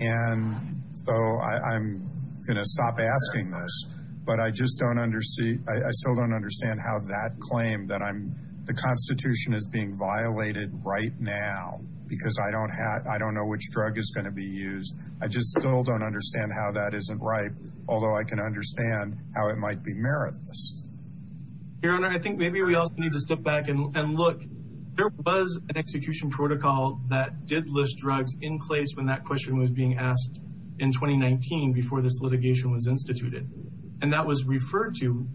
And so I'm going to stop asking this, but I just don't understand, I still don't understand how that claim that the constitution is being violated right now because I don't know which drug is going to be used. I just still don't understand how that isn't right. Although I can understand how it might be meritless. Your Honor, I think maybe we also need to step back and look, there was an execution protocol that did list drugs in place when that question was being asked in 2019 before this litigation was instituted. And that was referred to,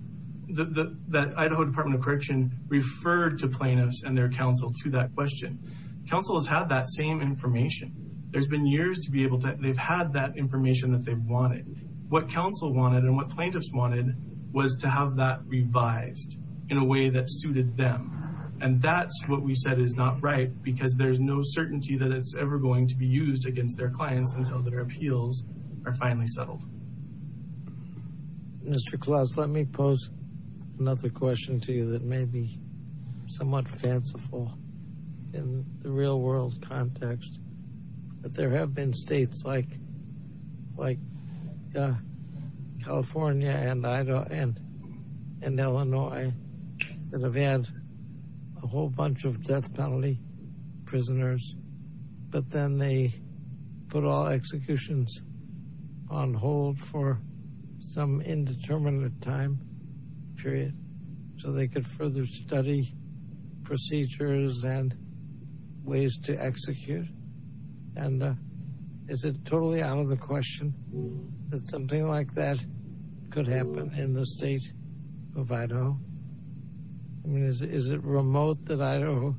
that Idaho Department of Correction referred to plaintiffs and their counsel to that question. Counsel has had that same information. There's been years to be able to, they've had that information that they've wanted. What counsel wanted and what plaintiffs wanted was to have that revised in a way that suited them. And that's what we said is not right because there's no certainty that it's ever going to be used against their clients until their appeals are finally settled. Mr. Klaus, let me pose another question to you that may be somewhat fanciful in the real world context. That there have been states like California and Illinois that have had a whole bunch of death penalty prisoners, but then they put all executions on hold for some indeterminate time period so they could further study procedures and ways to execute. And is it totally out of the question that something like that could happen in the state of Idaho? I mean, is it remote that Idaho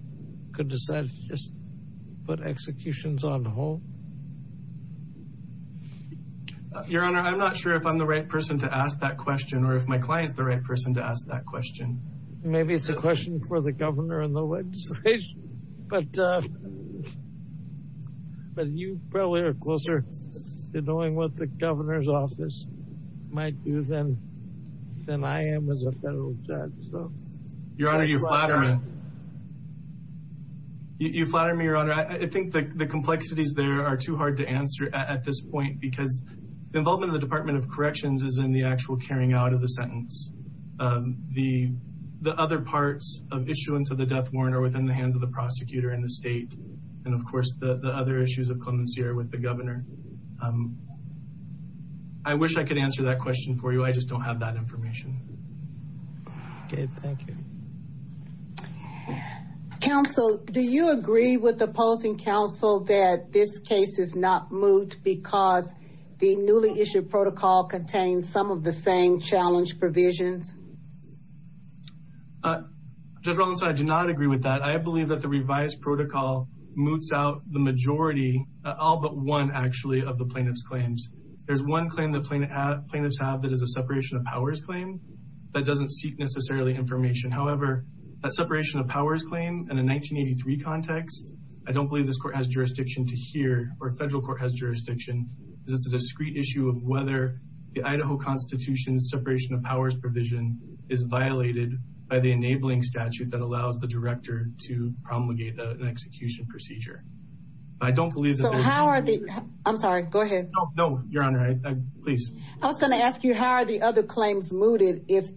could decide to just put executions on hold? Your Honor, I'm not sure if I'm the right person to ask that question or if my client's the right person to ask that question. Maybe it's a question for the governor and the legislature, but you probably are closer to knowing what the governor's office might do than I am as a federal judge, so. Your Honor, you flatter me. You flatter me, Your Honor. I think the complexities there are too hard to answer at this point, because the involvement of the Department of Corrections is in the actual carrying out of the sentence. The other parts of issuance of the death warrant are within the hands of the prosecutor and the state, and of course, the other issues of clemency are with the governor. I wish I could answer that question for you. I just don't have that information. Okay, thank you. Counsel, do you agree with the opposing counsel that this case is not moot because the newly issued protocol contains some of the same challenge provisions? Judge Rollins, I do not agree with that. I believe that the revised protocol moots out the majority, all but one, actually, of the plaintiff's claims. There's one claim the plaintiffs have that is a separation of powers claim that doesn't seek necessarily information. However, that separation of powers claim in a 1983 context, I don't believe this court has jurisdiction to hear, or federal court has jurisdiction, because it's a discrete issue of whether the Idaho Constitution's separation of powers provision is violated by the enabling statute that allows the director to promulgate an execution procedure. I don't believe that there's- So how are the, I'm sorry, go ahead. No, your honor, please. I was gonna ask you, how are the other claims mooted if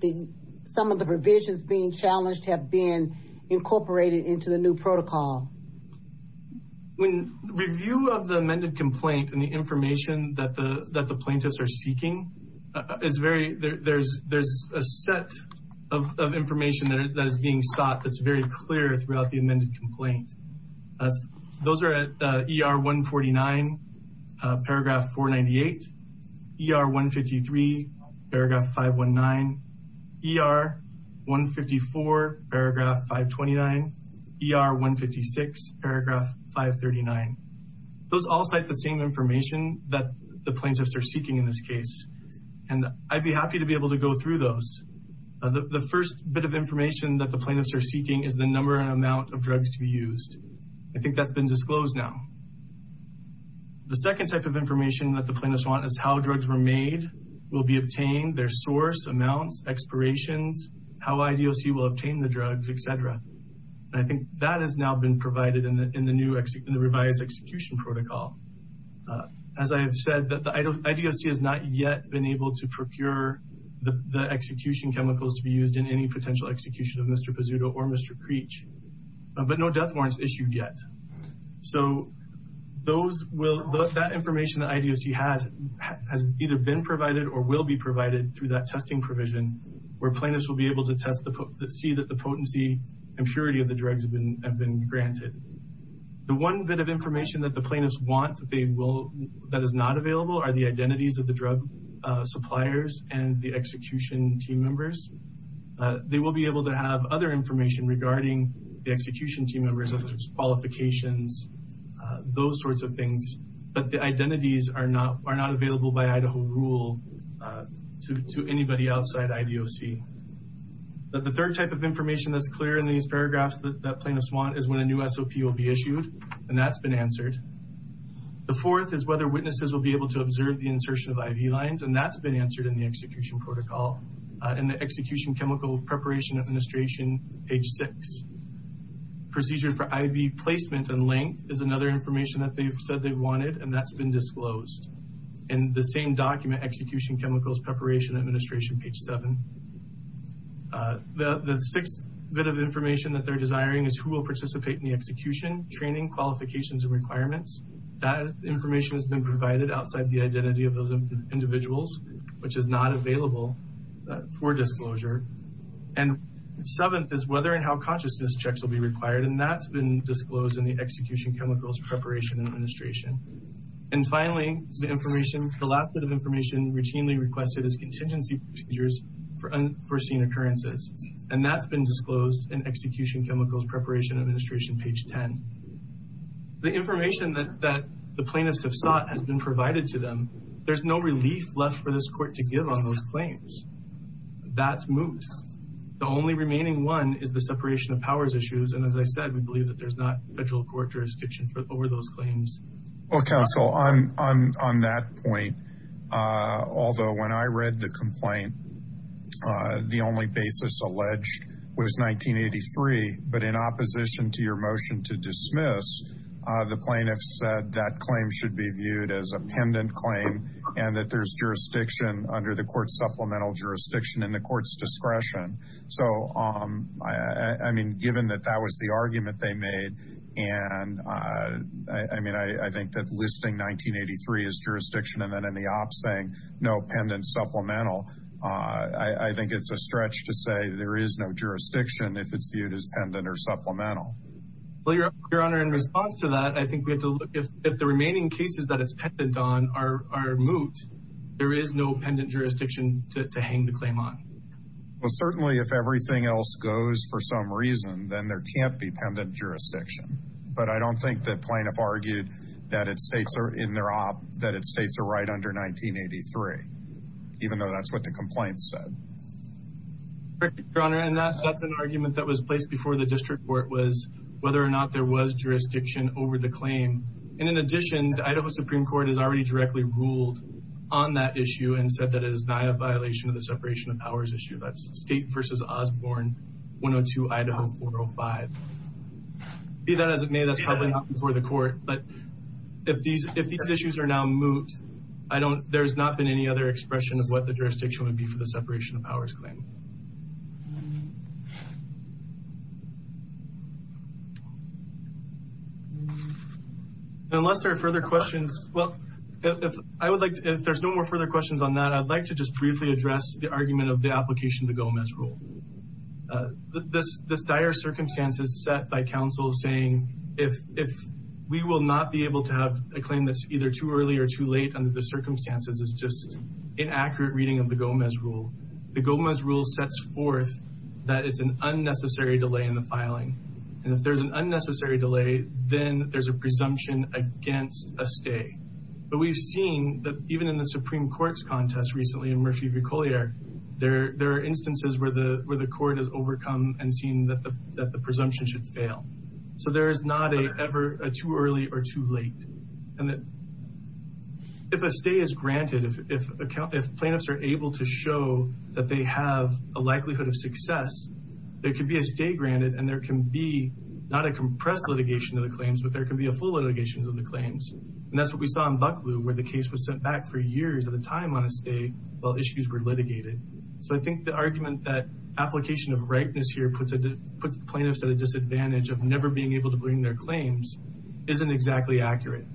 some of the provisions being challenged have been incorporated into the new protocol? When review of the amended complaint and the information that the plaintiffs are seeking, there's a set of information that is being sought that's very clear throughout the amended complaint. Those are at ER 149, paragraph 498, ER 153, paragraph 519, ER 154, paragraph 529, ER 156, paragraph 539. Those all cite the same information that the plaintiffs are seeking in this case. And I'd be happy to be able to go through those. The first bit of information that the plaintiffs are seeking is the number and amount of drugs to be used. I think that's been disclosed now. The second type of information that the plaintiffs want is how drugs were made, will be obtained, their source amounts, expirations, how IDOC will obtain the drugs, et cetera. And I think that has now been provided in the revised execution protocol. As I have said, the IDOC has not yet been able to procure the execution chemicals to be used in any potential execution of Mr. Pizzuto or Mr. Creech, but no death warrants issued yet. So that information that IDOC has has either been provided or will be provided through that testing provision where plaintiffs will be able to see that the potency and purity of the drugs have been granted. The one bit of information that the plaintiffs want that is not available are the identities of the drug suppliers and the execution team members. They will be able to have other information regarding the execution team members in terms of qualifications, those sorts of things, but the identities are not available by Idaho rule to anybody outside IDOC. The third type of information that's clear in these paragraphs that plaintiffs want is when a new SOP will be issued, and that's been answered. The fourth is whether witnesses will be able to observe the insertion of IV lines, and that's been answered in the execution protocol in the execution chemical preparation administration, page six. Procedures for IV placement and length is another information that they've said they wanted, and that's been disclosed in the same document, execution chemicals preparation administration, page seven. The sixth bit of information that they're desiring is who will participate in the execution, training, qualifications, and requirements. That information has been provided outside the identity of those individuals, which is not available for disclosure. And seventh is whether and how consciousness checks will be required, and that's been disclosed in the execution chemicals preparation administration. And finally, the last bit of information routinely requested is contingency procedures for unforeseen occurrences, and that's been disclosed in execution chemicals preparation administration, page 10. The information that the plaintiffs have sought has been provided to them. There's no relief left for this court to give on those claims. That's moose. The only remaining one is the separation of powers issues, and as I said, we believe that there's not federal court jurisdiction over those claims. Well, counsel, on that point, although when I read the complaint, the only basis alleged was 1983, but in opposition to your motion to dismiss, the plaintiffs said that claim should be viewed as a pendant claim, and that there's jurisdiction under the court's supplemental jurisdiction in the court's discretion. So, I mean, given that that was the argument they made, and I mean, I think that listing 1983 as jurisdiction, and then in the op saying no pendant supplemental, I think it's a stretch to say there is no jurisdiction if it's viewed as pendant or supplemental. Well, your honor, in response to that, I think we have to look, if the remaining cases that it's pendant on are moot, there is no pendant jurisdiction to hang the claim on. Well, certainly if everything else goes for some reason, then there can't be pendant jurisdiction, but I don't think the plaintiff argued that its states are in their op, that its states are right under 1983, even though that's what the complaint said. Correct, your honor, and that's an argument that was placed before the district court was whether or not there was jurisdiction over the claim. And in addition, the Idaho Supreme Court has already directly ruled on that issue and said that it is not a violation of the separation of powers issue. That's state versus Osborne, 102 Idaho 405. Be that as it may, that's probably not before the court, but if these issues are now moot, there's not been any other expression of what the jurisdiction would be for the separation of powers claim. Unless there are further questions, well, if there's no more further questions on that, I'd like to just briefly address the argument of the application of the Gomez rule. This dire circumstances set by counsel saying, if we will not be able to have a claim that's either too early or too late under the circumstances is just inaccurate reading of the Gomez rule. The Gomez rule sets forth that it's an unnecessary delay in the filing. And if there's an unnecessary delay, then there's a presumption against a stay. But we've seen that even in the Supreme Court's contest recently in Murphy v. Collier, there are instances where the court has overcome and seen that the presumption should fail. So there is not a ever too early or too late. And if a stay is granted, if plaintiffs are able to show that they have a likelihood of success, there could be a stay granted and there can be not a compressed litigation of the claims, but there can be a full litigation of the claims. And that's what we saw in Bucklew where the case was sent back for years at a time on a stay while issues were litigated. So I think the argument that application of rightness here puts the plaintiffs at a disadvantage of never being able to bring their claims isn't exactly accurate.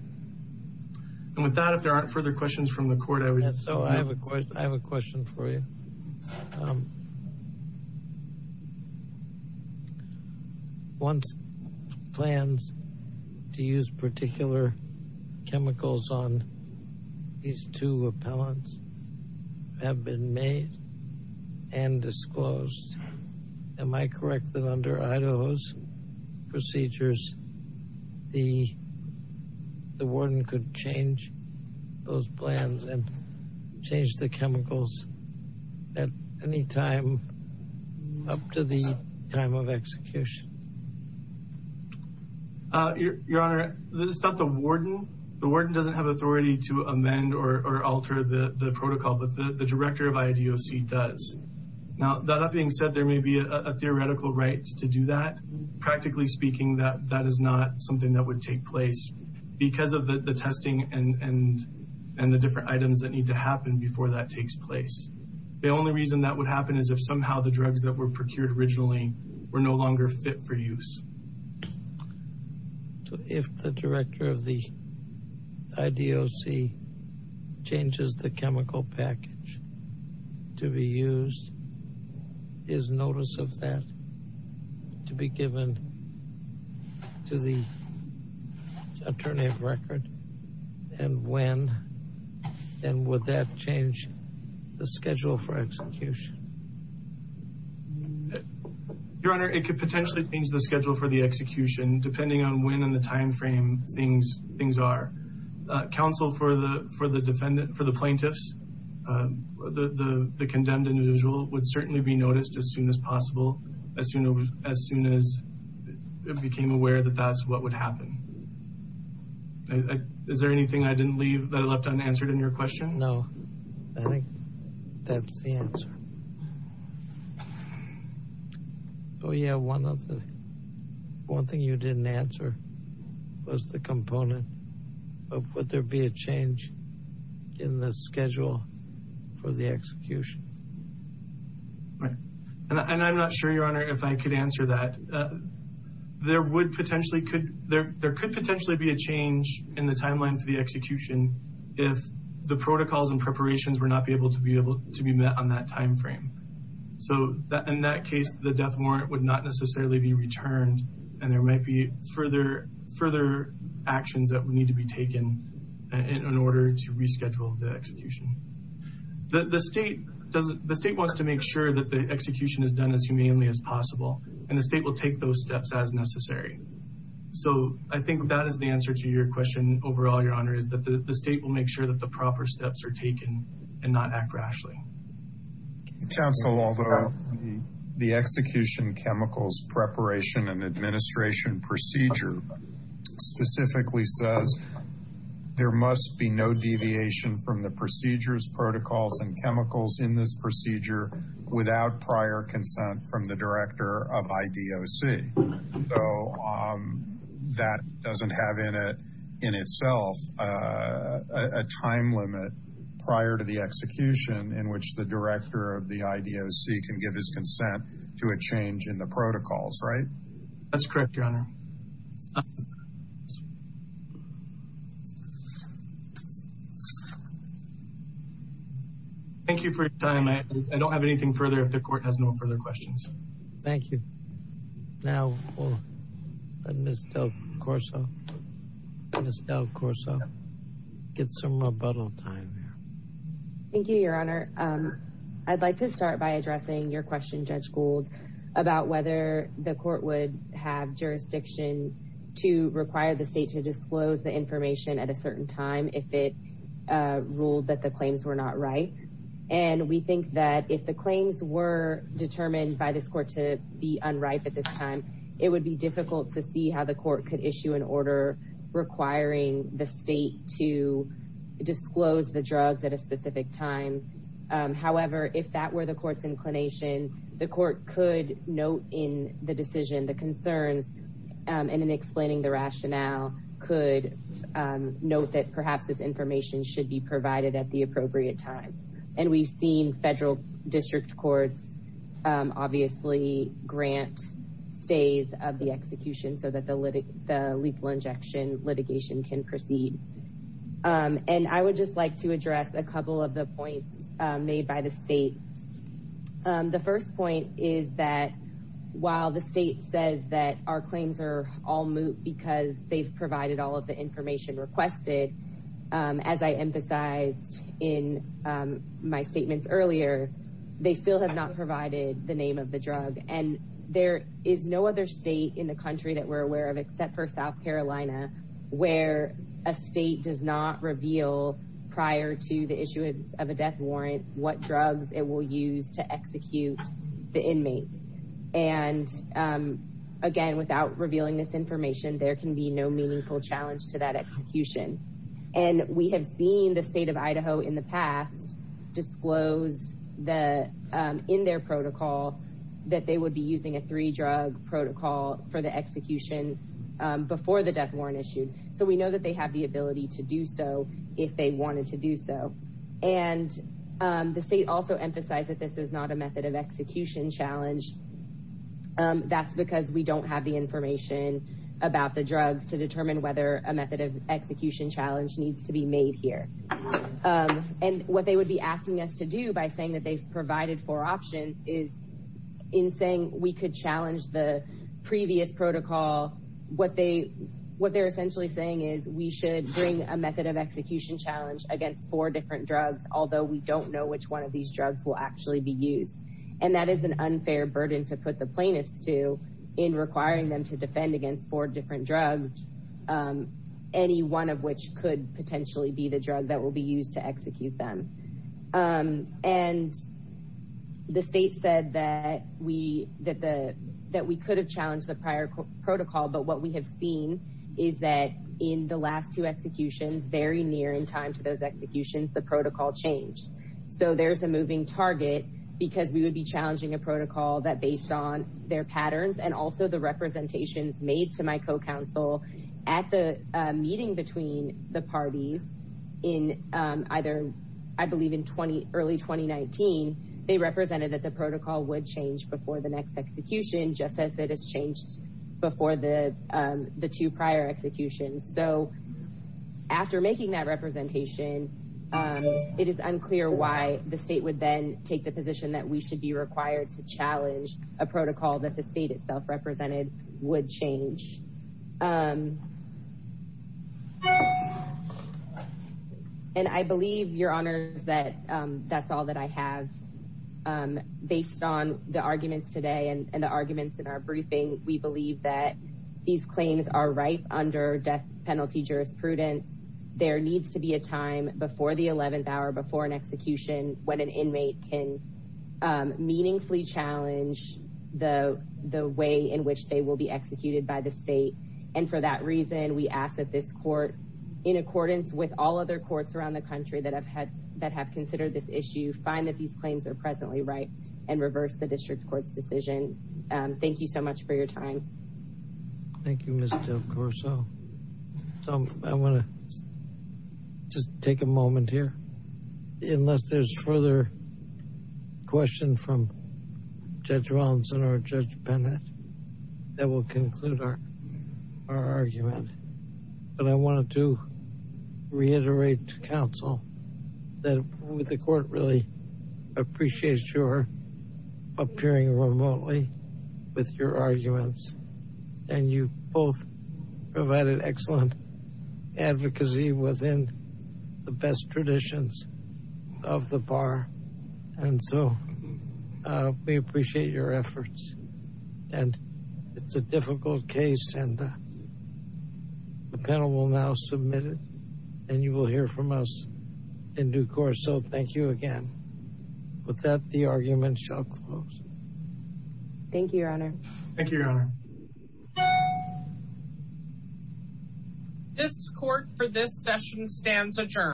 And with that, if there aren't further questions from the court, I would- So I have a question for you. Once plans to use particular chemicals on these two appellants have been made and disclosed, am I correct that under Idaho's procedures, the warden could change those plans and change the chemicals at any time up to the time of execution? Your Honor, it's not the warden. The warden doesn't have authority to amend or alter the protocol, but the director of IDOC does. Now, that being said, there may be a theoretical right to do that. Practically speaking, that is not something that would take place because of the testing and the different items that need to happen before that takes place. The only reason that would happen is if somehow the drugs that were procured originally were no longer fit for use. If the director of the IDOC changes the chemical package to be used, is notice of that to be given to the attorney of record? And when? And would that change the schedule for execution? Your Honor, it could potentially change the schedule for the execution, depending on when in the timeframe things are. Counsel for the plaintiffs, the condemned individual, would certainly be noticed as soon as possible, as soon as it became aware that that's what would happen. Is there anything I didn't leave that I left unanswered in your question? No, I think that's the answer. Oh yeah, one thing you didn't answer was the component of would there be a change in the schedule for the execution? Right, and I'm not sure, Your Honor, if I could answer that. There would potentially, there could potentially be a change in the timeline for the execution if the protocols and preparations were not able to be met on that timeframe. So in that case, the death warrant would not necessarily be returned, and there might be further actions that would need to be taken in order to reschedule the execution. The state wants to make sure that the execution is done as humanely as possible, and the state will take those steps as necessary. So I think that is the answer to your question overall, Your Honor, is that the state will make sure that the proper steps are taken and not act rashly. Counsel, although the execution chemicals preparation and administration procedure specifically says there must be no deviation from the procedures, protocols, and chemicals in this procedure without prior consent from the director of IDOC. So that doesn't have in it, in itself, a time limit prior to the execution in which the director of the IDOC can give his consent to a change in the protocols, right? That's correct, Your Honor. Thank you for your time. I don't have anything further if the court has no further questions. Thank you. Now, we'll let Ms. Del Corso, Ms. Del Corso, get some rebuttal time here. Thank you, Your Honor. I'd like to start by addressing your question, Judge Gould, about whether the court would have jurisdiction to require the state to disclose the information at a certain time if it ruled that the claims were not right. And we think that if the claims were determined by this court to be unripe at this time, it would be difficult to see how the court could issue an order requiring the state to disclose the drugs at a specific time. However, if that were the court's inclination, the court could note in the decision, the concerns, and in explaining the rationale, could note that perhaps this information should be provided at the appropriate time. And we've seen federal district courts, obviously, grant stays of the execution so that the lethal injection litigation can proceed. And I would just like to address a couple of the points made by the state. The first point is that while the state says that our claims are all moot because they've provided all of the information requested, as I emphasized in my statements earlier, they still have not provided the name of the drug. And there is no other state in the country that we're aware of except for South Carolina, where a state does not reveal prior to the issuance of a death warrant what drugs it will use to execute the inmates. And again, without revealing this information, there can be no meaningful challenge to that execution. And we have seen the state of Idaho in the past disclose in their protocol that they would be using a three-drug protocol for the execution before the death warrant issued. So we know that they have the ability to do so if they wanted to do so. And the state also emphasized that this is not a method of execution challenge. That's because we don't have the information about the drugs to determine whether a method of execution challenge needs to be made here. And what they would be asking us to do by saying that they've provided four options is in saying we could challenge the previous protocol, what they're essentially saying is we should bring a method of execution challenge against four different drugs, although we don't know which one of these drugs will actually be used. And that is an unfair burden to put the plaintiffs to in requiring them to defend against four different drugs, any one of which could potentially be the drug that will be used to execute them. And the state said that we could have challenged the prior protocol, but what we have seen is that in the last two executions, very near in time to those executions, the protocol changed. So there's a moving target because we would be challenging a protocol that based on their patterns and also the representations made to my co-counsel at the meeting between the parties in either, I believe in early 2019, they represented that the protocol would change before the next execution, just as it has changed before the two prior executions. So after making that representation, it is unclear why the state would then take the position that we should be required to challenge a protocol that the state itself represented would change. And I believe your honors that that's all that I have based on the arguments today and the arguments in our briefing. We believe that these claims are right under death penalty jurisprudence. There needs to be a time before the 11th hour or before an execution when an inmate can meaningfully challenge the way in which they will be executed by the state. And for that reason, we ask that this court in accordance with all other courts around the country that have considered this issue, find that these claims are presently right and reverse the district court's decision. Thank you so much for your time. Thank you, Ms. Del Corso. I wanna just take a moment here. Unless there's further question from Judge Robinson or Judge Bennett, that will conclude our argument. But I wanted to reiterate to counsel that the court really appreciates your appearing remotely with your arguments. And you both provided excellent advocacy within the best traditions of the bar. And so we appreciate your efforts. And it's a difficult case and the panel will now submit it and you will hear from us in due course. So thank you again. With that, the argument shall close. Thank you, Your Honor. Thank you, Your Honor. This court for this session stands adjourned.